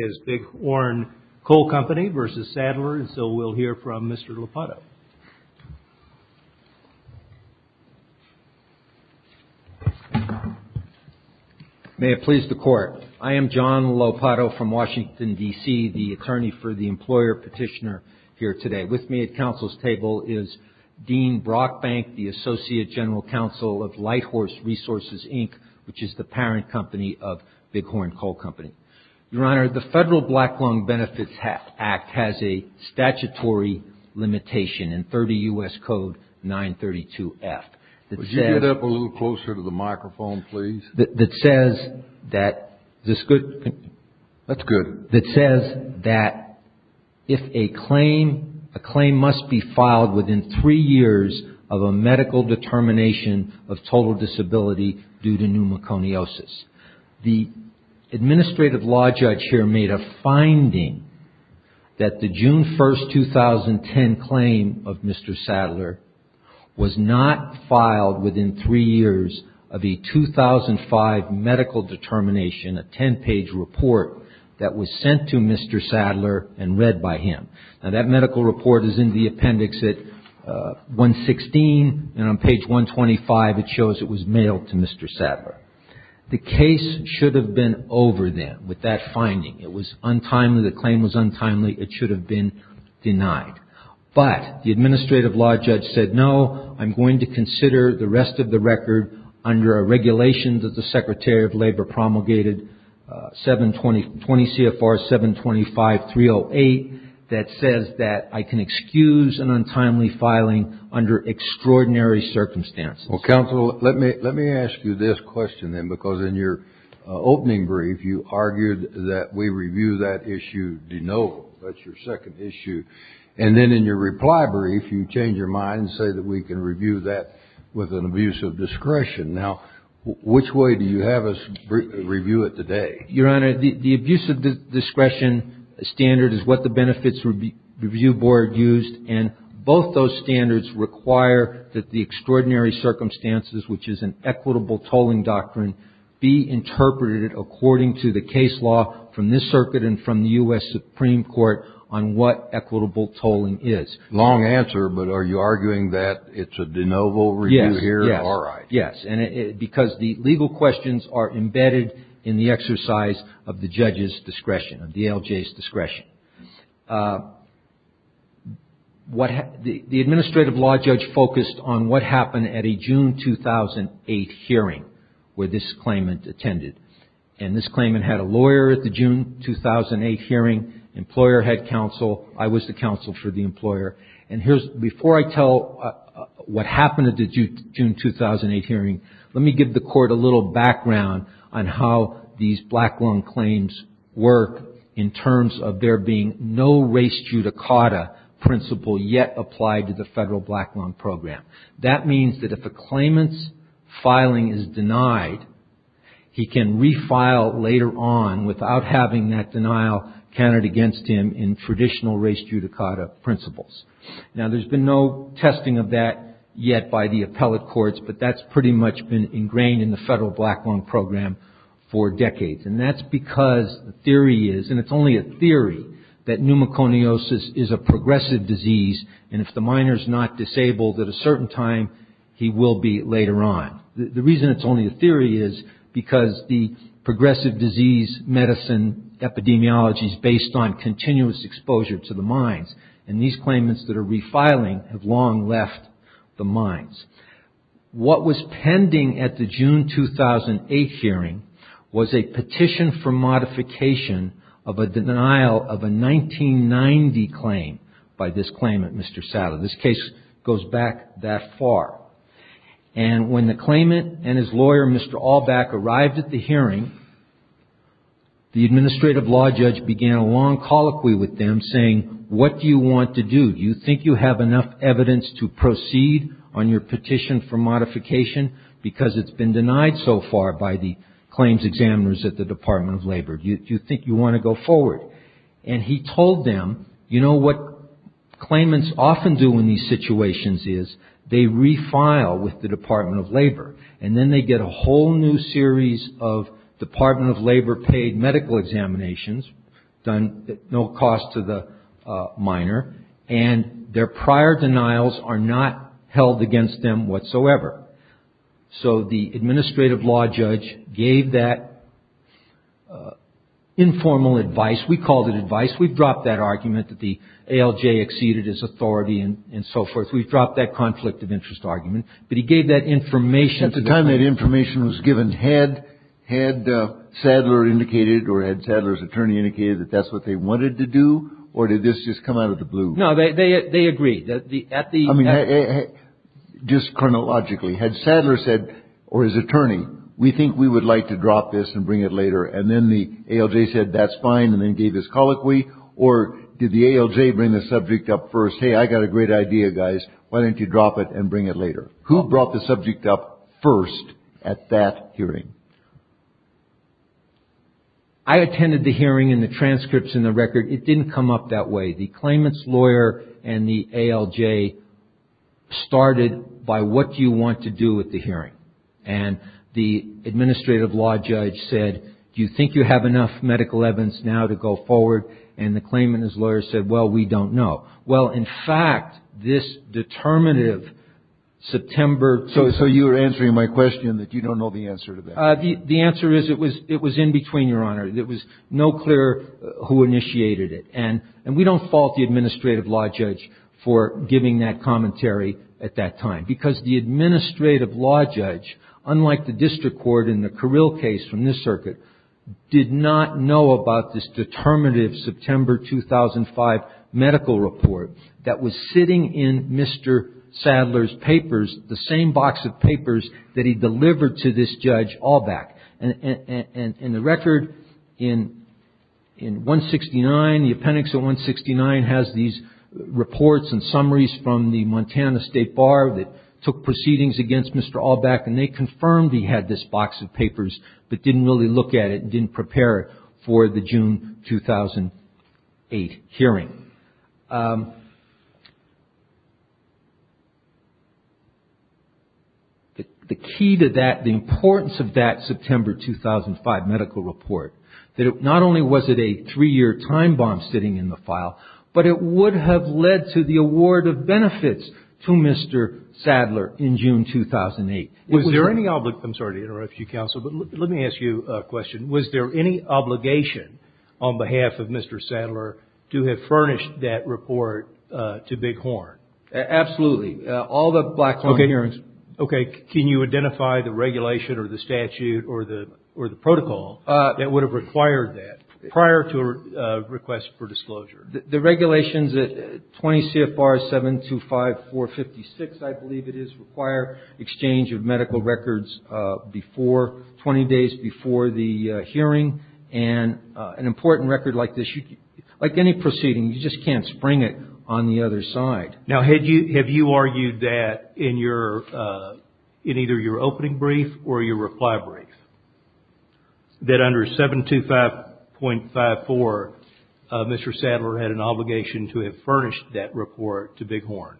and so we'll hear from Mr. Lopato. May it please the Court, I am John Lopato from Washington, D.C., the attorney for the employer petitioner here today. With me at counsel's table is Dean Brockbank, the Associate General Counsel of Light Horse Resources, Inc., which is the parent company of Big Horn Coal Company. Your Honor, the Federal Black Lung Benefits Act has a statutory limitation in 30 U.S. Code 932F. Would you get up a little closer to the microphone, please? That says that if a claim must be filed within three years of a medical determination of total disability due to pneumoconiosis. The Administrative Law Judge here made a finding that the June 1, 2010 claim of Mr. Sadler was not filed within three years of a 2005 medical determination, a ten-page report that was sent to Mr. Sadler and read by him. Now that medical report is in the appendix at 116 and on page 125 it shows it was mailed to Mr. Sadler. The case should have been over then with that finding. It was untimely. The claim was untimely. It should have been denied. But the Administrative Law Judge said, no, I'm going to consider the rest of the record under a regulation that the Secretary of Labor promulgated, 720 CFR 725-308, that says that I can excuse an untimely filing under extraordinary circumstances. Well, counsel, let me ask you this question, then, because in your opening brief you argued that we review that issue de novo. That's your second issue. And then in your reply brief you change your mind and say that we can review that with an abuse of discretion. Now, which way do you have us review it today? Your Honor, the abuse of discretion standard is what the Benefits Review Board used, and both those standards require that the extraordinary circumstances, which is an equitable tolling doctrine, be interpreted according to the case law from this circuit and from the U.S. Supreme Court on what equitable tolling is. Long answer, but are you arguing that it's a de novo review here? Yes. All right. Because the legal questions are embedded in the exercise of the judge's discretion, of the ALJ's discretion. The administrative law judge focused on what happened at a June 2008 hearing where this claimant attended. And this claimant had a lawyer at the June 2008 hearing, employer had counsel, I was the counsel for the employer. And here's, before I tell what happened at the June 2008 hearing, let me give the Court a little background on how these black loan claims work in terms of there being no race judicata principle yet applied to the federal black loan program. That means that if a claimant's filing is denied, he can refile later on without having that denial counted against him in traditional race judicata principles. Now, there's been no testing of that yet by the appellate courts, but that's pretty much been ingrained in the federal black loan program for decades. And that's because the theory is, and it's only a theory, that pneumoconiosis is a progressive disease, and if the minor's not disabled at a certain time, he will be later on. Now, the reason it's only a theory is because the progressive disease medicine epidemiology is based on continuous exposure to the minds. And these claimants that are refiling have long left the minds. What was pending at the June 2008 hearing was a petition for modification of a denial of a 1990 claim by this claimant, Mr. Sadler. This case goes back that far. And when the claimant and his lawyer, Mr. Allback, arrived at the hearing, the administrative law judge began a long colloquy with them saying, what do you want to do? Do you think you have enough evidence to proceed on your petition for modification because it's been denied so far by the claims examiners at the Department of Labor? Do you think you want to go forward? And he told them, you know, what claimants often do in these situations is they refile with the Department of Labor, and then they get a whole new series of Department of Labor paid medical examinations done at no cost to the minor, and their prior denials are not held against them whatsoever. So the administrative law judge gave that informal advice. We called it advice. We've dropped that argument that the ALJ exceeded his authority and so forth. We've dropped that conflict of interest argument. But he gave that information. At the time that information was given, had Sadler indicated or had Sadler's attorney indicated that that's what they wanted to do, or did this just come out of the blue? No, they agreed. I mean, just chronologically, had Sadler said, or his attorney, we think we would like to drop this and bring it later, and then the ALJ said that's fine and then gave his colloquy, or did the ALJ bring the subject up first? Hey, I got a great idea, guys. Why don't you drop it and bring it later? Who brought the subject up first at that hearing? I attended the hearing and the transcripts and the record. It didn't come up that way. The claimant's lawyer and the ALJ started by, what do you want to do at the hearing? And the administrative law judge said, do you think you have enough medical evidence now to go forward? And the claimant and his lawyer said, well, we don't know. Well, in fact, this determinative September. So you were answering my question that you don't know the answer to that? The answer is it was in between, Your Honor. It was no clear who initiated it. And we don't fault the administrative law judge for giving that commentary at that time, because the administrative law judge, unlike the district court in the Carrill case from this circuit, did not know about this determinative September 2005 medical report that was sitting in Mr. Sadler's papers, the same box of papers that he delivered to this judge all back. And the record in 169, the appendix of 169, has these reports and summaries from the Montana State Bar that took proceedings against Mr. Allback, and they confirmed he had this box of papers but didn't really look at it and didn't prepare it for the June 2008 hearing. The key to that, the importance of that September 2005 medical report, that not only was it a three-year time bomb sitting in the file, but it would have led to the award of benefits to Mr. Sadler in June 2008. Was there any obligation, I'm sorry to interrupt you, counsel, but let me ask you a question. Was there any obligation on behalf of Mr. Sadler to have furnished that report to Bighorn? Absolutely. All the Blackhorn hearings. Okay. Can you identify the regulation or the statute or the protocol that would have required that prior to a request for disclosure? The regulations at 20 CFR 725456, I believe it is required, exchange of medical records 20 days before the hearing. And an important record like this, like any proceeding, you just can't spring it on the other side. Now, have you argued that in either your opening brief or your reply brief, that under 725.54 Mr. Sadler had an obligation to have furnished that report to Bighorn?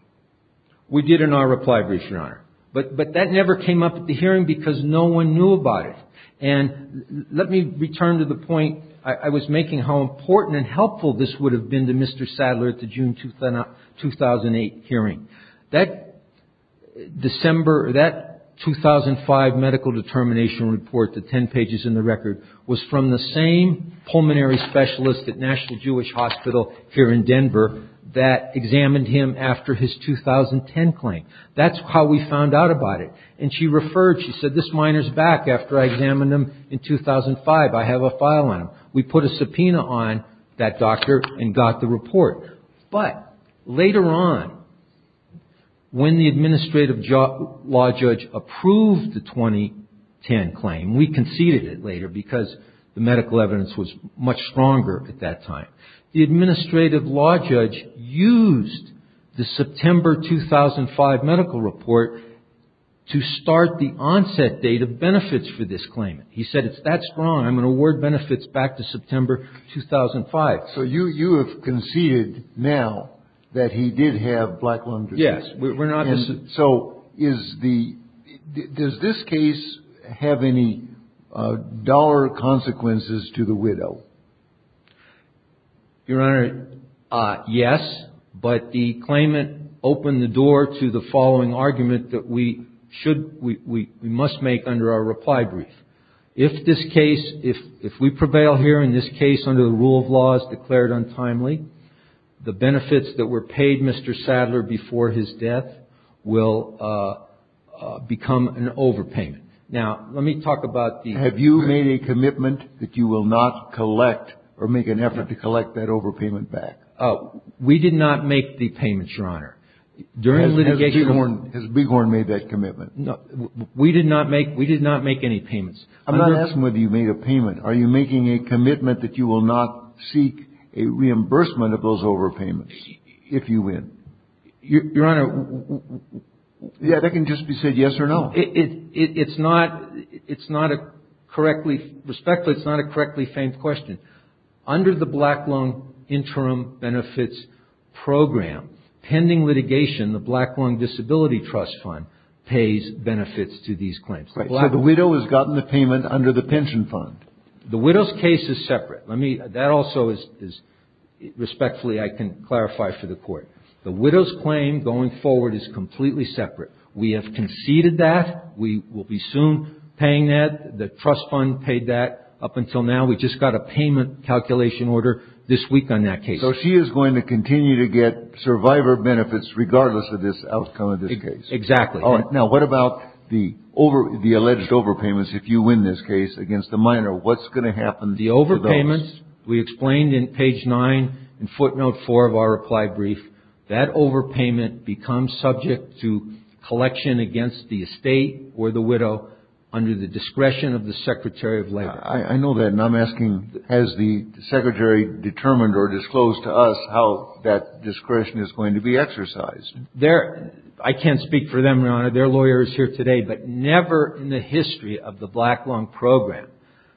We did in our reply brief, Your Honor. But that never came up at the hearing because no one knew about it. And let me return to the point I was making, how important and helpful this would have been to Mr. Sadler at the June 2008 hearing. That 2005 medical determination report, the 10 pages in the record, was from the same pulmonary specialist at National Jewish Hospital here in Denver that examined him after his 2010 claim. That's how we found out about it. And she referred, she said, this minor's back after I examined him in 2005. I have a file on him. We put a subpoena on that doctor and got the report. But later on, when the administrative law judge approved the 2010 claim, we conceded it later because the medical evidence was much stronger at that time. The administrative law judge used the September 2005 medical report to start the onset date of benefits for this claim. He said it's that strong. I'm going to award benefits back to September 2005. So you have conceded now that he did have black lung disease? Yes. So does this case have any dollar consequences to the widow? Your Honor, yes. But the claimant opened the door to the following argument that we should, we must make under our reply brief. If this case, if we prevail here in this case under the rule of law as declared untimely, the benefits that were paid Mr. Sadler before his death will become an overpayment. Now, let me talk about the- We did not make the payment, Your Honor. During litigation- Has Bighorn made that commitment? No. We did not make any payments. I'm not asking whether you made a payment. Are you making a commitment that you will not seek a reimbursement of those overpayments if you win? Your Honor- Yeah, that can just be said yes or no. It's not a correctly respected commitment. It's not a correctly famed question. Under the Black Lung Interim Benefits Program, pending litigation, the Black Lung Disability Trust Fund pays benefits to these claims. Right. So the widow has gotten the payment under the pension fund. The widow's case is separate. Let me, that also is, respectfully I can clarify for the Court. The widow's claim going forward is completely separate. We have conceded that. We will be soon paying that. The trust fund paid that up until now. We just got a payment calculation order this week on that case. So she is going to continue to get survivor benefits regardless of this outcome of this case. Exactly. All right. Now, what about the alleged overpayments if you win this case against the minor? What's going to happen to those? The overpayments, we explained in page 9 in footnote 4 of our reply brief, that overpayment becomes subject to collection against the estate or the widow under the discretion of the Secretary of Labor. I know that. And I'm asking, has the Secretary determined or disclosed to us how that discretion is going to be exercised? I can't speak for them, Your Honor. Their lawyer is here today. But never in the history of the Black Lung Program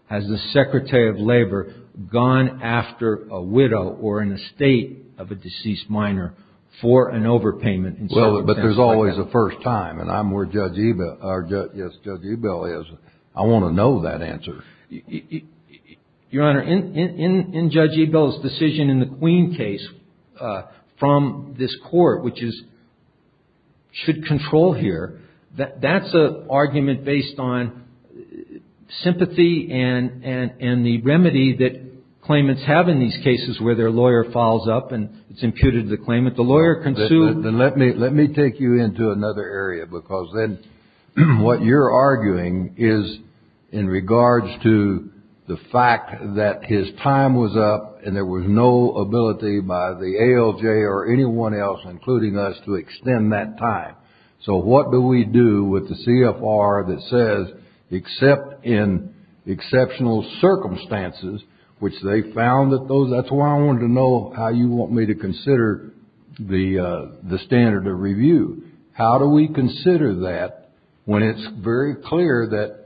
has the Secretary of Labor gone after a widow or an estate of a deceased minor for an overpayment. But there's always a first time. And I'm where Judge Ebell is. I want to know that answer. Your Honor, in Judge Ebell's decision in the Queen case from this Court, which is should control here, that's an argument based on sympathy and the remedy that claimants have in these cases where their lawyer follows up and it's imputed to the claimant. The lawyer can sue. Well, let me take you into another area. Because then what you're arguing is in regards to the fact that his time was up and there was no ability by the ALJ or anyone else, including us, to extend that time. So what do we do with the CFR that says, except in exceptional circumstances, which they found that those, that's why I wanted to know how you want me to consider the standard of review. How do we consider that when it's very clear that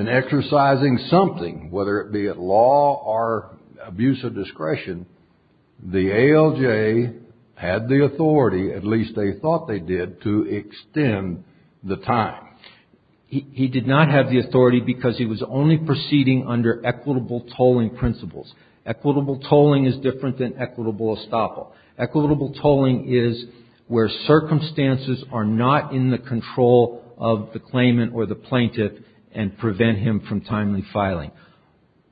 in exercising something, whether it be at law or abuse of discretion, the ALJ had the authority, at least they thought they did, to extend the time. He did not have the authority because he was only proceeding under equitable tolling principles. Equitable tolling is different than equitable estoppel. Equitable tolling is where circumstances are not in the control of the claimant or the plaintiff and prevent him from timely filing.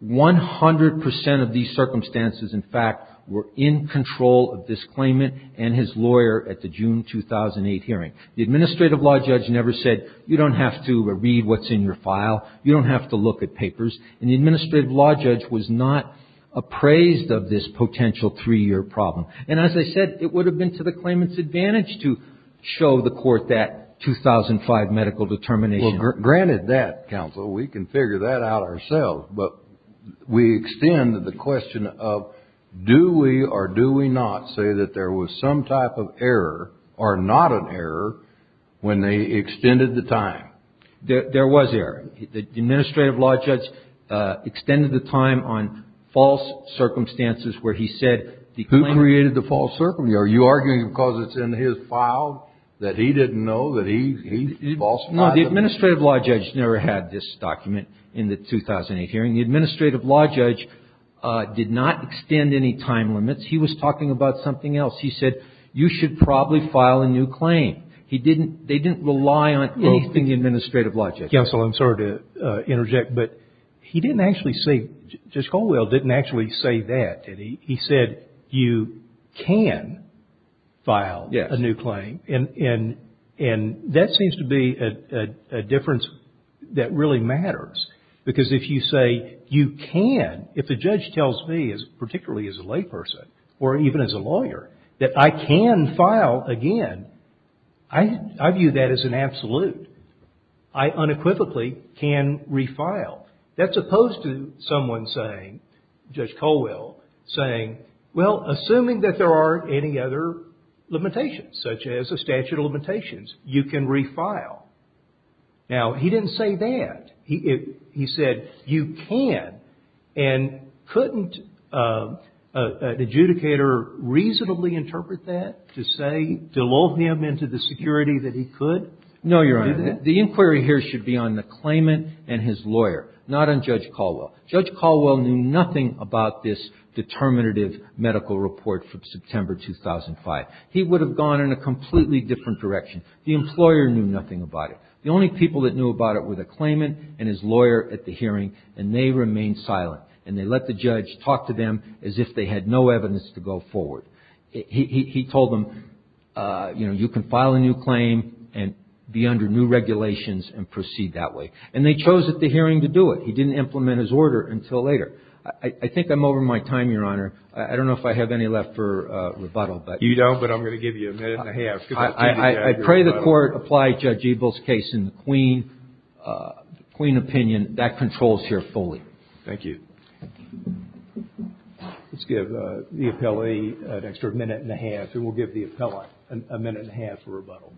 One hundred percent of these circumstances, in fact, were in control of this claimant and his lawyer at the June 2008 hearing. The administrative law judge never said, you don't have to read what's in your file. You don't have to look at papers. And the administrative law judge was not appraised of this potential three-year problem. And as I said, it would have been to the claimant's advantage to show the court that 2005 medical determination. Well, granted that, counsel, we can figure that out ourselves. But we extend the question of do we or do we not say that there was some type of error or not an error when they extended the time? There was error. The administrative law judge extended the time on false circumstances where he said the claimant. Who created the false circumstances? Are you arguing because it's in his file that he didn't know that he falsified it? No, the administrative law judge never had this document in the 2008 hearing. The administrative law judge did not extend any time limits. He was talking about something else. He said you should probably file a new claim. They didn't rely on anything the administrative law judge did. Counsel, I'm sorry to interject, but he didn't actually say, Judge Colwell didn't actually say that, did he? He said you can file a new claim. And that seems to be a difference that really matters because if you say you can, if the judge tells me, particularly as a layperson or even as a lawyer, that I can file again, I view that as an absolute. I unequivocally can refile. That's opposed to someone saying, Judge Colwell, saying, well, assuming that there aren't any other limitations, such as a statute of limitations, you can refile. Now, he didn't say that. He said you can. And couldn't an adjudicator reasonably interpret that to say, delude him into the security that he could? No, Your Honor. The inquiry here should be on the claimant and his lawyer, not on Judge Colwell. Judge Colwell knew nothing about this determinative medical report from September 2005. He would have gone in a completely different direction. The employer knew nothing about it. The only people that knew about it were the claimant and his lawyer at the hearing, and they remained silent. And they let the judge talk to them as if they had no evidence to go forward. He told them, you know, you can file a new claim and be under new regulations and proceed that way. And they chose at the hearing to do it. He didn't implement his order until later. I think I'm over my time, Your Honor. I don't know if I have any left for rebuttal. You don't, but I'm going to give you a minute and a half. I pray the Court applies Judge Ebel's case in the Queen opinion. That controls here fully. Thank you. Let's give the appellee an extra minute and a half, and we'll give the appellant a minute and a half for rebuttal.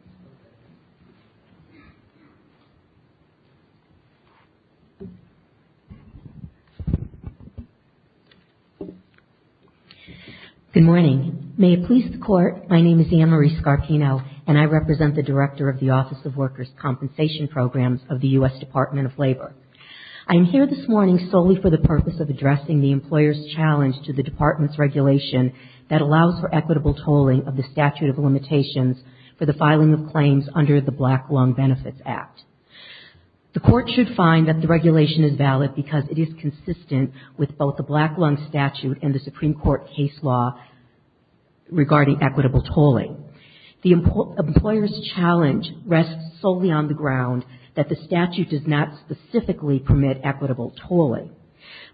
Good morning. May it please the Court, my name is Anne-Marie Scarpino, and I represent the Director of the Office of Workers' Compensation Programs of the U.S. Department of Labor. I am here this morning solely for the purpose of addressing the employer's challenge to the Department's regulation that allows for equitable tolling of the statute of limitations for the filing of claims under the Black Lung Benefits Act. The Court should find that the regulation is valid because it is consistent with both the Black Lung Statute and the Supreme Court case law regarding equitable tolling. The employer's challenge rests solely on the ground that the statute does not specifically permit equitable tolling.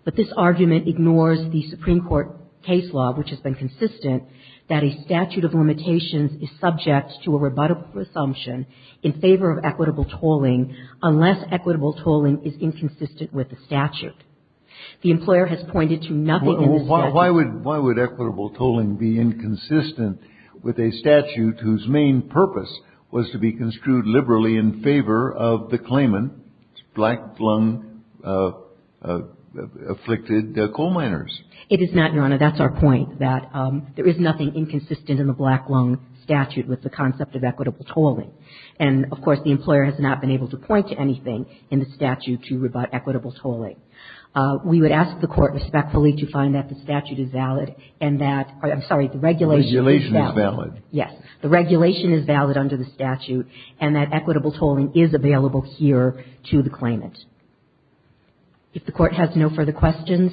But this argument ignores the Supreme Court case law, which has been consistent, that a statute of limitations is subject to a rebuttable presumption in favor of equitable tolling unless equitable tolling is inconsistent with the statute. The employer has pointed to nothing in the statute. Why would equitable tolling be inconsistent with a statute whose main purpose was to be construed liberally in favor of the claimant, Black Lung-afflicted coal miners? It is not, Your Honor. That's our point, that there is nothing inconsistent in the Black Lung Statute with the concept of equitable tolling. And, of course, the employer has not been able to point to anything in the statute to rebut equitable tolling. We would ask the Court respectfully to find that the statute is valid and that the regulation is valid. Yes. If the Court has no further questions,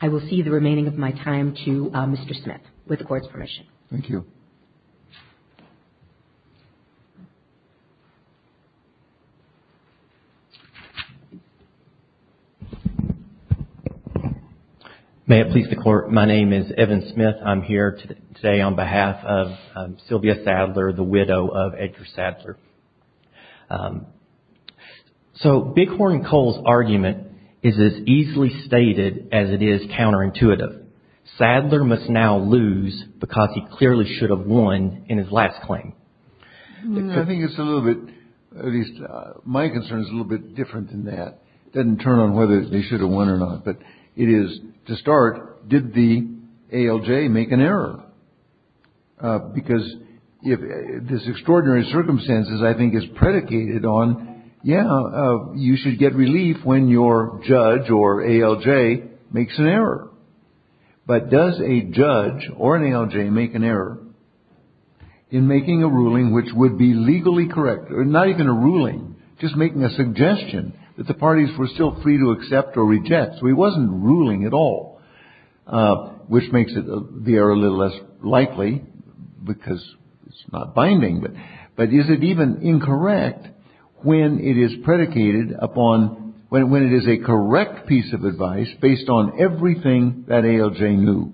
I will cede the remaining of my time to Mr. Smith, with the Court's permission. Thank you. May it please the Court, my name is Evan Smith. I'm here today on behalf of Sylvia Sadler, the widow of Edgar Sadler. So, Bighorn Coal's argument is as easily stated as it is counterintuitive. Sadler must now lose because he clearly should have won in his last claim. I think it's a little bit, at least my concern is a little bit different than that. It doesn't turn on whether they should have won or not. But it is, to start, did the ALJ make an error? Because this extraordinary circumstances, I think, is predicated on, yeah, you should get relief when your judge or ALJ makes an error. But does a judge or an ALJ make an error in making a ruling which would be legally correct? Or not even a ruling, just making a suggestion that the parties were still free to accept or reject. So he wasn't ruling at all, which makes the error a little less likely because it's not binding. But is it even incorrect when it is predicated upon, when it is a correct piece of advice based on everything that ALJ knew?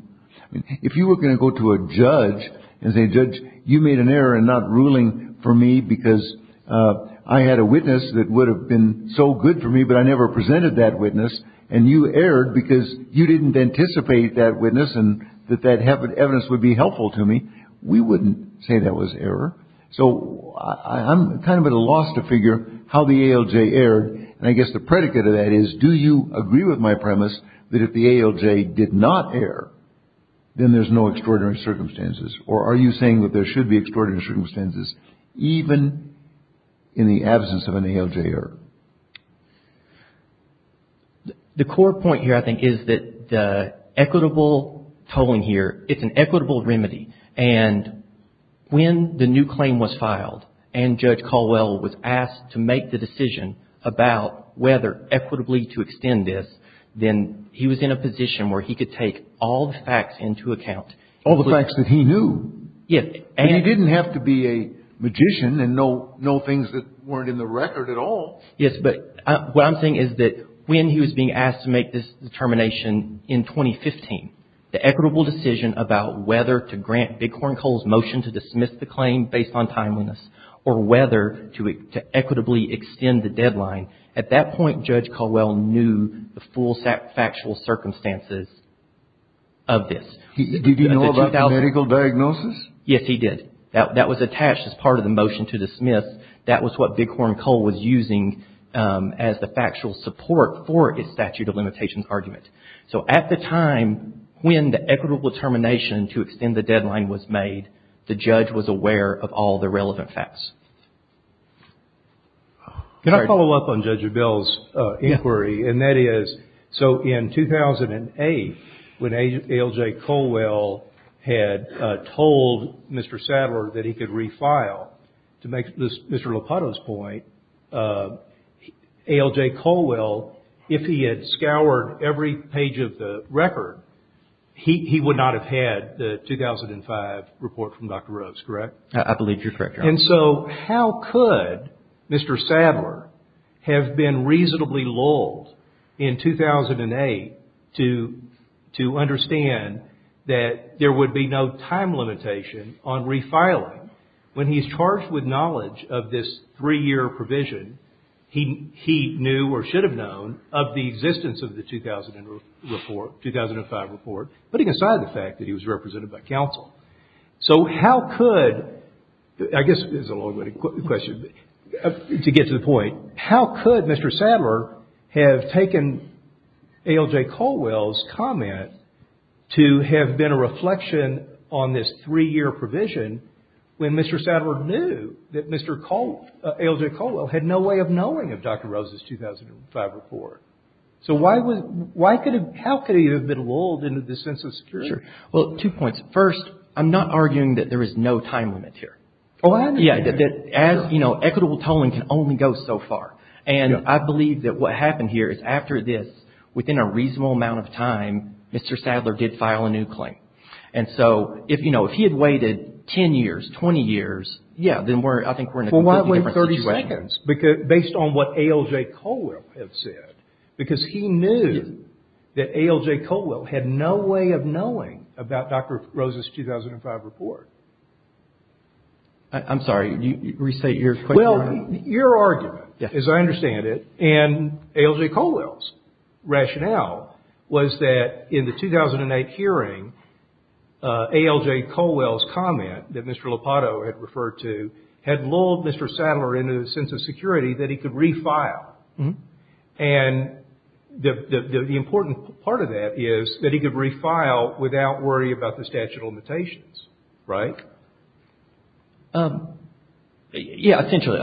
If you were going to go to a judge and say, judge, you made an error in not ruling for me because I had a witness that would have been so good for me, but I never presented that witness, and you erred because you didn't anticipate that witness and that that evidence would be helpful to me, we wouldn't say that was error. So I'm kind of at a loss to figure how the ALJ erred. And I guess the predicate of that is, do you agree with my premise that if the ALJ did not err, then there's no extraordinary circumstances? Or are you saying that there should be extraordinary circumstances even in the absence of an ALJ error? The core point here, I think, is that the equitable tolling here, it's an equitable remedy. And when the new claim was filed and Judge Caldwell was asked to make the decision about whether equitably to extend this, then he was in a position where he could take all the facts into account. All the facts that he knew. Yes. And he didn't have to be a magician and know things that weren't in the record at all. Yes, but what I'm saying is that when he was being asked to make this determination in 2015, the equitable decision about whether to grant Bighorn Cole's motion to dismiss the claim based on timeliness, or whether to equitably extend the deadline, at that point, Judge Caldwell knew the full factual circumstances of this. Did he know about the medical diagnosis? Yes, he did. That was attached as part of the motion to dismiss. That was what Bighorn Cole was using as the factual support for his statute of limitations argument. So at the time when the equitable determination to extend the deadline was made, the judge was aware of all the relevant facts. Can I follow up on Judge Abell's inquiry? Yes. And that is, so in 2008, when A. L. J. Caldwell had told Mr. Sadler that he could refile, to make Mr. Lopato's point, A. L. J. Caldwell, if he had scoured every page of the record, he would not have had the 2005 report from Dr. Rose, correct? I believe you're correct, Your Honor. And so how could Mr. Sadler have been reasonably lulled in 2008 to understand that there would be no time limitation on refiling when he's charged with knowledge of this three-year provision he knew or should have known of the existence of the 2005 report, putting aside the fact that he was represented by counsel. So how could, I guess this is a long-winded question, to get to the point, how could Mr. Sadler have taken A. L. J. Caldwell's comment to have been a reflection on this three-year provision when Mr. Sadler knew that A. L. J. Caldwell had no way of knowing of Dr. Rose's 2005 report? So how could he have been lulled into this sense of security? Sure. Well, two points. First, I'm not arguing that there is no time limit here. Oh, I understand. Yeah, that as, you know, equitable tolling can only go so far. And I believe that what happened here is after this, within a reasonable amount of time, Mr. Sadler did file a new claim. And so if, you know, if he had waited 10 years, 20 years, yeah, then I think we're in a completely different situation. Based on what A. L. J. Caldwell had said. Because he knew that A. L. J. Caldwell had no way of knowing about Dr. Rose's 2005 report. I'm sorry, restate your question. Well, your argument, as I understand it, and A. L. J. Caldwell's rationale, was that in the 2008 hearing, A. L. J. Caldwell's comment that Mr. Lopato had referred to, had lulled Mr. Sadler into the sense of security that he could refile. And the important part of that is that he could refile without worry about the statute of limitations. Right? Yeah, essentially.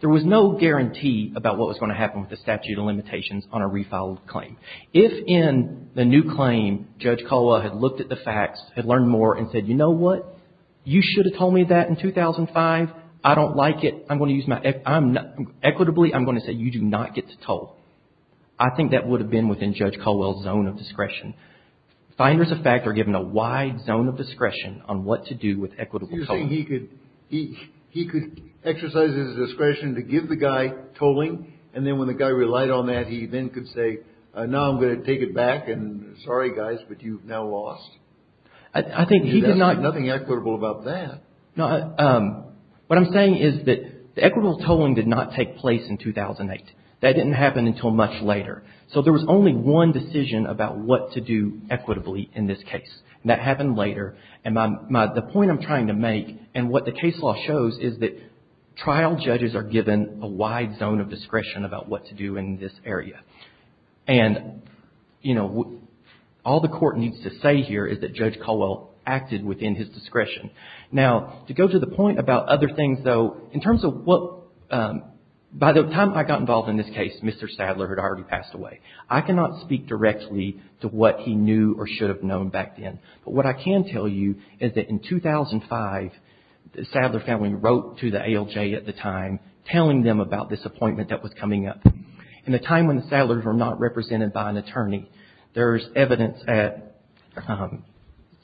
There was no guarantee about what was going to happen with the statute of limitations on a refiled claim. If in the new claim, Judge Caldwell had looked at the facts, had learned more and said, you know what, you should have told me that in 2005. I don't like it. I'm going to use my, equitably, I'm going to say you do not get to tell. I think that would have been within Judge Caldwell's zone of discretion. Finders of fact are given a wide zone of discretion on what to do with equitable tolling. You're saying he could exercise his discretion to give the guy tolling, and then when the guy relied on that, he then could say, now I'm going to take it back, and sorry guys, but you've now lost. I think he did not. There's nothing equitable about that. No, what I'm saying is that the equitable tolling did not take place in 2008. That didn't happen until much later. So there was only one decision about what to do equitably in this case, and that happened later. And the point I'm trying to make, and what the case law shows, is that trial judges are given a wide zone of discretion about what to do in this area. And, you know, all the Court needs to say here is that Judge Caldwell acted within his discretion. Now, to go to the point about other things, though, in terms of what, by the time I got involved in this case, Mr. Sadler had already passed away. I cannot speak directly to what he knew or should have known back then. But what I can tell you is that in 2005, the Sadler family wrote to the ALJ at the time, telling them about this appointment that was coming up. In a time when the Sadlers were not represented by an attorney, there's evidence at,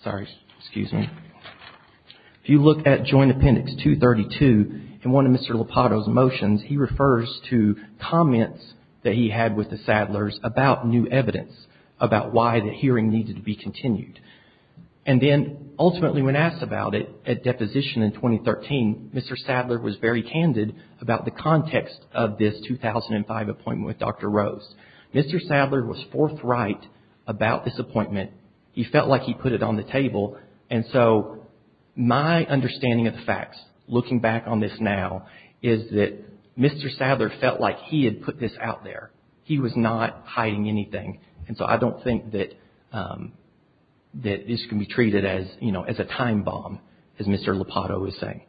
sorry, excuse me. If you look at Joint Appendix 232, in one of Mr. Lopato's motions, he refers to comments that he had with the Sadlers about new evidence, about why the hearing needed to be continued. And then, ultimately, when asked about it at deposition in 2013, Mr. Sadler was very candid about the context of this 2005 appointment with Dr. Rose. Mr. Sadler was forthright about this appointment. And so my understanding of the facts, looking back on this now, is that Mr. Sadler felt like he had put this out there. He was not hiding anything. And so I don't think that this can be treated as, you know, as a time bomb, as Mr. Lopato was saying.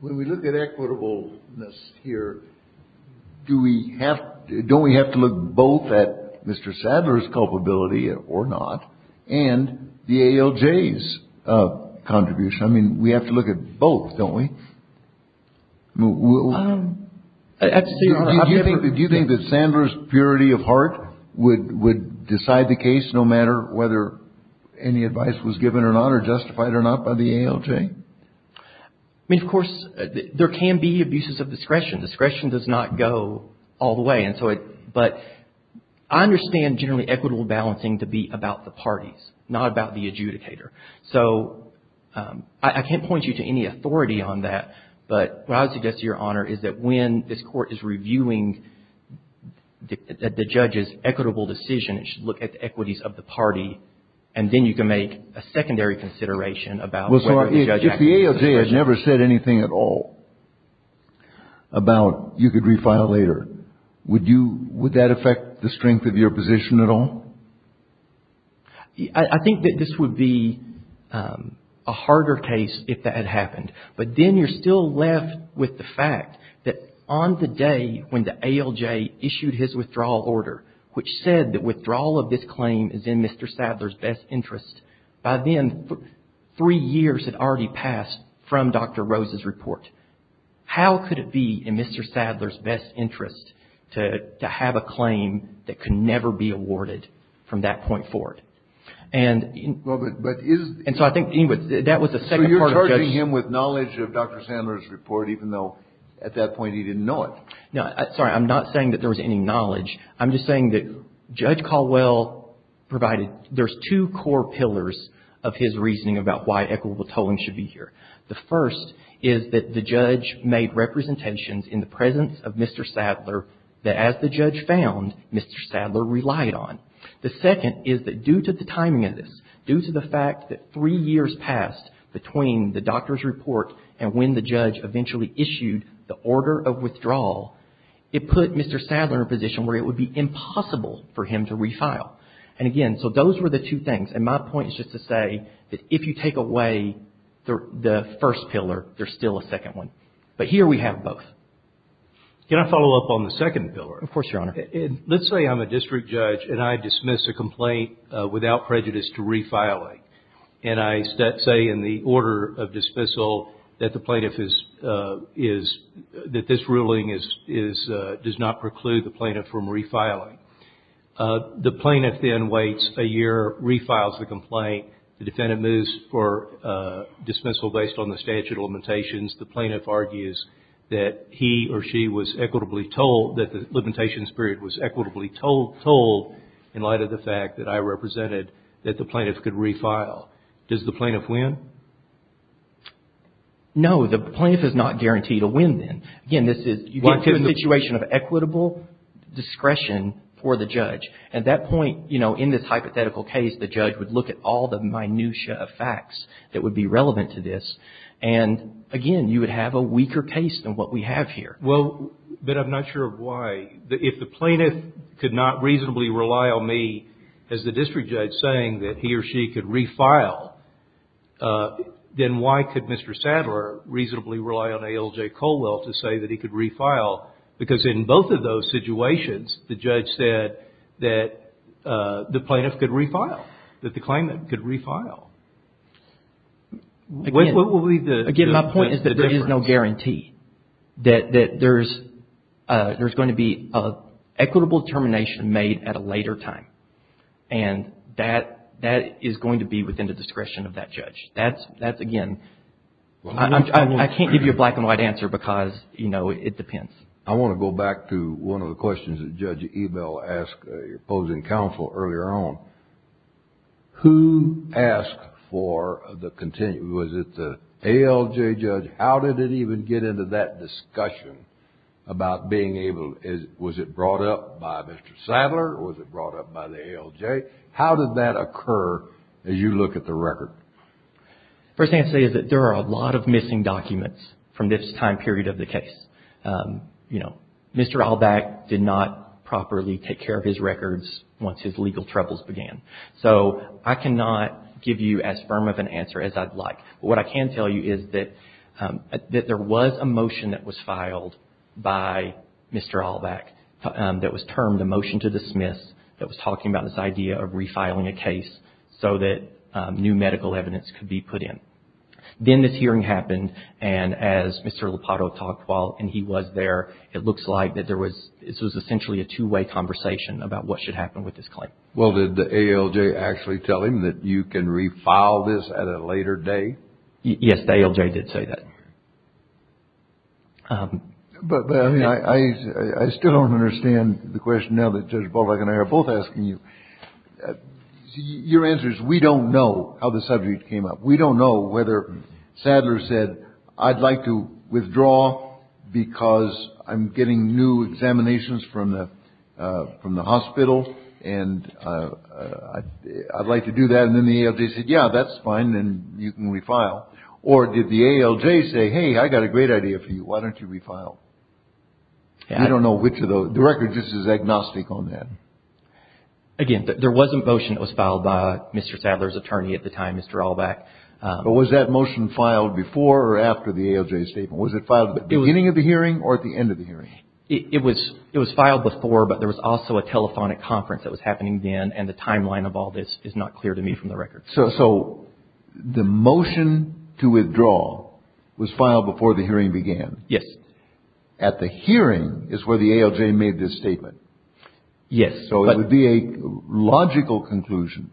When we look at equitableness here, do we have to look both at Mr. Sadler's culpability or not, and the ALJ's contribution? I mean, we have to look at both, don't we? Do you think that Sadler's purity of heart would decide the case, no matter whether any advice was given or not, or justified or not, by the ALJ? I mean, of course, there can be abuses of discretion. Discretion does not go all the way. But I understand generally equitable balancing to be about the parties, not about the adjudicator. So I can't point you to any authority on that. But what I would suggest, Your Honor, is that when this Court is reviewing the judge's equitable decision, it should look at the equities of the party. And then you can make a secondary consideration about whether the judge acted with discretion. If the ALJ had never said anything at all about you could refile later, would that affect the strength of your position at all? I think that this would be a harder case if that had happened. But then you're still left with the fact that on the day when the ALJ issued his withdrawal order, which said that withdrawal of this claim is in Mr. Sadler's best interest, by then, three years had already passed from Dr. Rose's report. How could it be in Mr. Sadler's best interest to have a claim that could never be awarded from that point forward? And so I think, anyway, that was the second part of the judge's – So you're charging him with knowledge of Dr. Sadler's report, even though at that point he didn't know it? No. Sorry, I'm not saying that there was any knowledge. I'm just saying that Judge Caldwell provided – there's two core pillars of his reasoning about why equitable tolling should be here. The first is that the judge made representations in the presence of Mr. Sadler that as the judge found, Mr. Sadler relied on. The second is that due to the timing of this, due to the fact that three years passed between the doctor's report and when the judge eventually issued the order of withdrawal, it put Mr. Sadler in a position where it would be impossible for him to refile. And again, so those were the two things. And my point is just to say that if you take away the first pillar, there's still a second one. But here we have both. Can I follow up on the second pillar? Of course, Your Honor. Let's say I'm a district judge and I dismiss a complaint without prejudice to refiling. And I say in the order of dismissal that the plaintiff is – that this ruling is – does not preclude the plaintiff from refiling. The plaintiff then waits a year, refiles the complaint. The defendant moves for dismissal based on the statute of limitations. The plaintiff argues that he or she was equitably tolled – that the limitations period was equitably tolled in light of the fact that I represented that the plaintiff could refile. Does the plaintiff win? No. The plaintiff is not guaranteed a win then. Again, this is – you get to a situation of equitable discretion for the judge. At that point, you know, in this hypothetical case, the judge would look at all the minutia of facts that would be relevant to this. And again, you would have a weaker case than what we have here. Well, but I'm not sure of why. If the plaintiff could not reasonably rely on me as the district judge saying that he or she could refile, then why could Mr. Sadler reasonably rely on A. L. J. Colwell to say that he could refile? Because in both of those situations, the judge said that the plaintiff could refile, that the claimant could refile. What would be the difference? Again, my point is that there is no guarantee, that there's going to be an equitable determination made at a later time. And that is going to be within the discretion of that judge. That's, again, I can't give you a black and white answer because, you know, it depends. I want to go back to one of the questions that Judge Ebel asked your opposing counsel earlier on. Who asked for the – was it the A. L. J. judge? How did it even get into that discussion about being able – was it brought up by Mr. Sadler or was it brought up by the A. L. J.? How did that occur as you look at the record? The first thing I'd say is that there are a lot of missing documents from this time period of the case. You know, Mr. Allback did not properly take care of his records once his legal troubles began. So I cannot give you as firm of an answer as I'd like. But what I can tell you is that there was a motion that was filed by Mr. Allback that was termed a motion to dismiss, that was talking about this idea of refiling a case so that new medical evidence could be put in. Then this hearing happened, and as Mr. Lopato talked while he was there, it looks like that there was – this was essentially a two-way conversation about what should happen with this claim. Well, did the A. L. J. actually tell him that you can refile this at a later day? Yes, the A. L. J. did say that. But, I mean, I still don't understand the question now that Judge Ballback and I are both asking you. Your answer is we don't know how the subject came up. We don't know whether Sadler said, I'd like to withdraw because I'm getting new examinations from the hospital, and I'd like to do that, and then the A. L. J. said, yeah, that's fine, and you can refile. Or did the A. L. J. say, hey, I got a great idea for you. Why don't you refile? I don't know which of those. The record just is agnostic on that. Again, there was a motion that was filed by Mr. Sadler's attorney at the time, Mr. Allback. But was that motion filed before or after the A. L. J. statement? Was it filed at the beginning of the hearing or at the end of the hearing? It was filed before, but there was also a telephonic conference that was happening then, and the timeline of all this is not clear to me from the record. So the motion to withdraw was filed before the hearing began? Yes. At the hearing is where the A. L. J. made this statement? Yes. So it would be a logical conclusion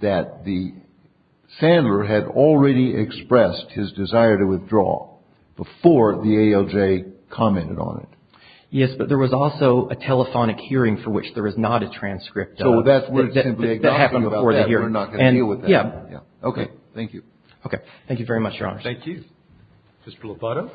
that Sadler had already expressed his desire to withdraw before the A. L. J. commented on it. Yes, but there was also a telephonic hearing for which there is not a transcript of. So that's where it's simply agnostic about that. We're not going to deal with that. Yeah. Okay. Thank you. Okay. Thank you very much, Your Honors. Thank you. Mr. Lopato?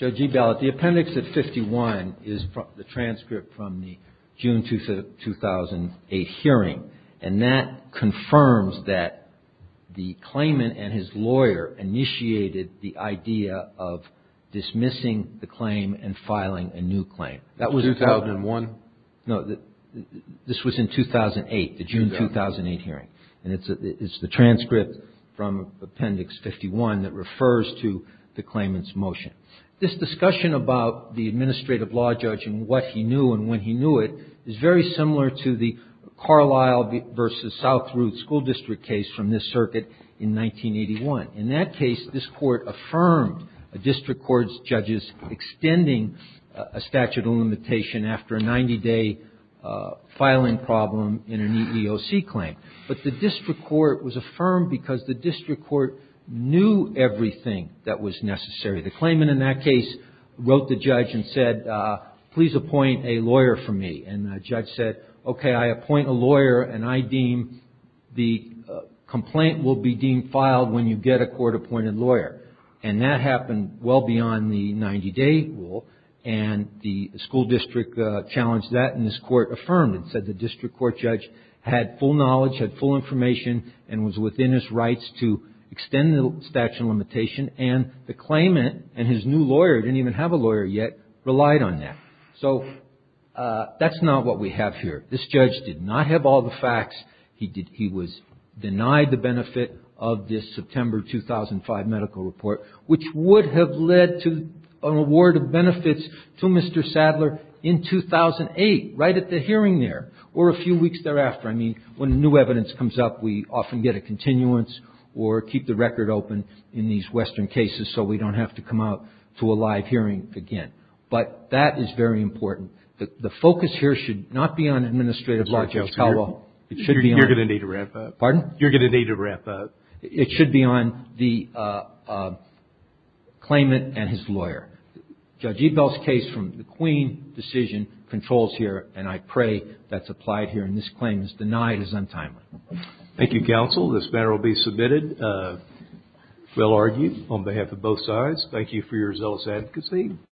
Judge Ebell, the appendix at 51 is the transcript from the June 2008 hearing, and that confirms that the claimant and his lawyer initiated the idea of dismissing the claim and filing a new claim. 2001? No. This was in 2008, the June 2008 hearing. And it's the transcript from appendix 51 that refers to the claimant's motion. This discussion about the administrative law judge and what he knew and when he knew it is very similar to the Carlisle v. South Ruth school district case from this circuit in 1981. In that case, this court affirmed a district court's judge's extending a statute of limitation after a 90-day filing problem in an EEOC claim. But the district court was affirmed because the district court knew everything that was necessary. The claimant in that case wrote the judge and said, please appoint a lawyer for me. And the judge said, okay, I appoint a lawyer and I deem the complaint will be deemed filed when you get a court-appointed lawyer. And that happened well beyond the 90-day rule, and the school district challenged that, and this court affirmed and said the district court judge had full knowledge, had full information, and was within his rights to extend the statute of limitation. And the claimant and his new lawyer, who didn't even have a lawyer yet, relied on that. So that's not what we have here. This judge did not have all the facts. He was denied the benefit of this September 2005 medical report, which would have led to an award of benefits to Mr. Sadler in 2008, right at the hearing there, or a few weeks thereafter. I mean, when new evidence comes up, we often get a continuance or keep the record open in these Western cases so we don't have to come out to a live hearing again. But that is very important. The focus here should not be on administrative law, Judge Caldwell. You're going to need a wrap-up. Pardon? You're going to need a wrap-up. It should be on the claimant and his lawyer. Judge Ebel's case from the Queen decision controls here, and I pray that's applied here. And this claim is denied as untimely. Thank you, counsel. This matter will be submitted. We'll argue on behalf of both sides. Thank you for your zealous advocacy.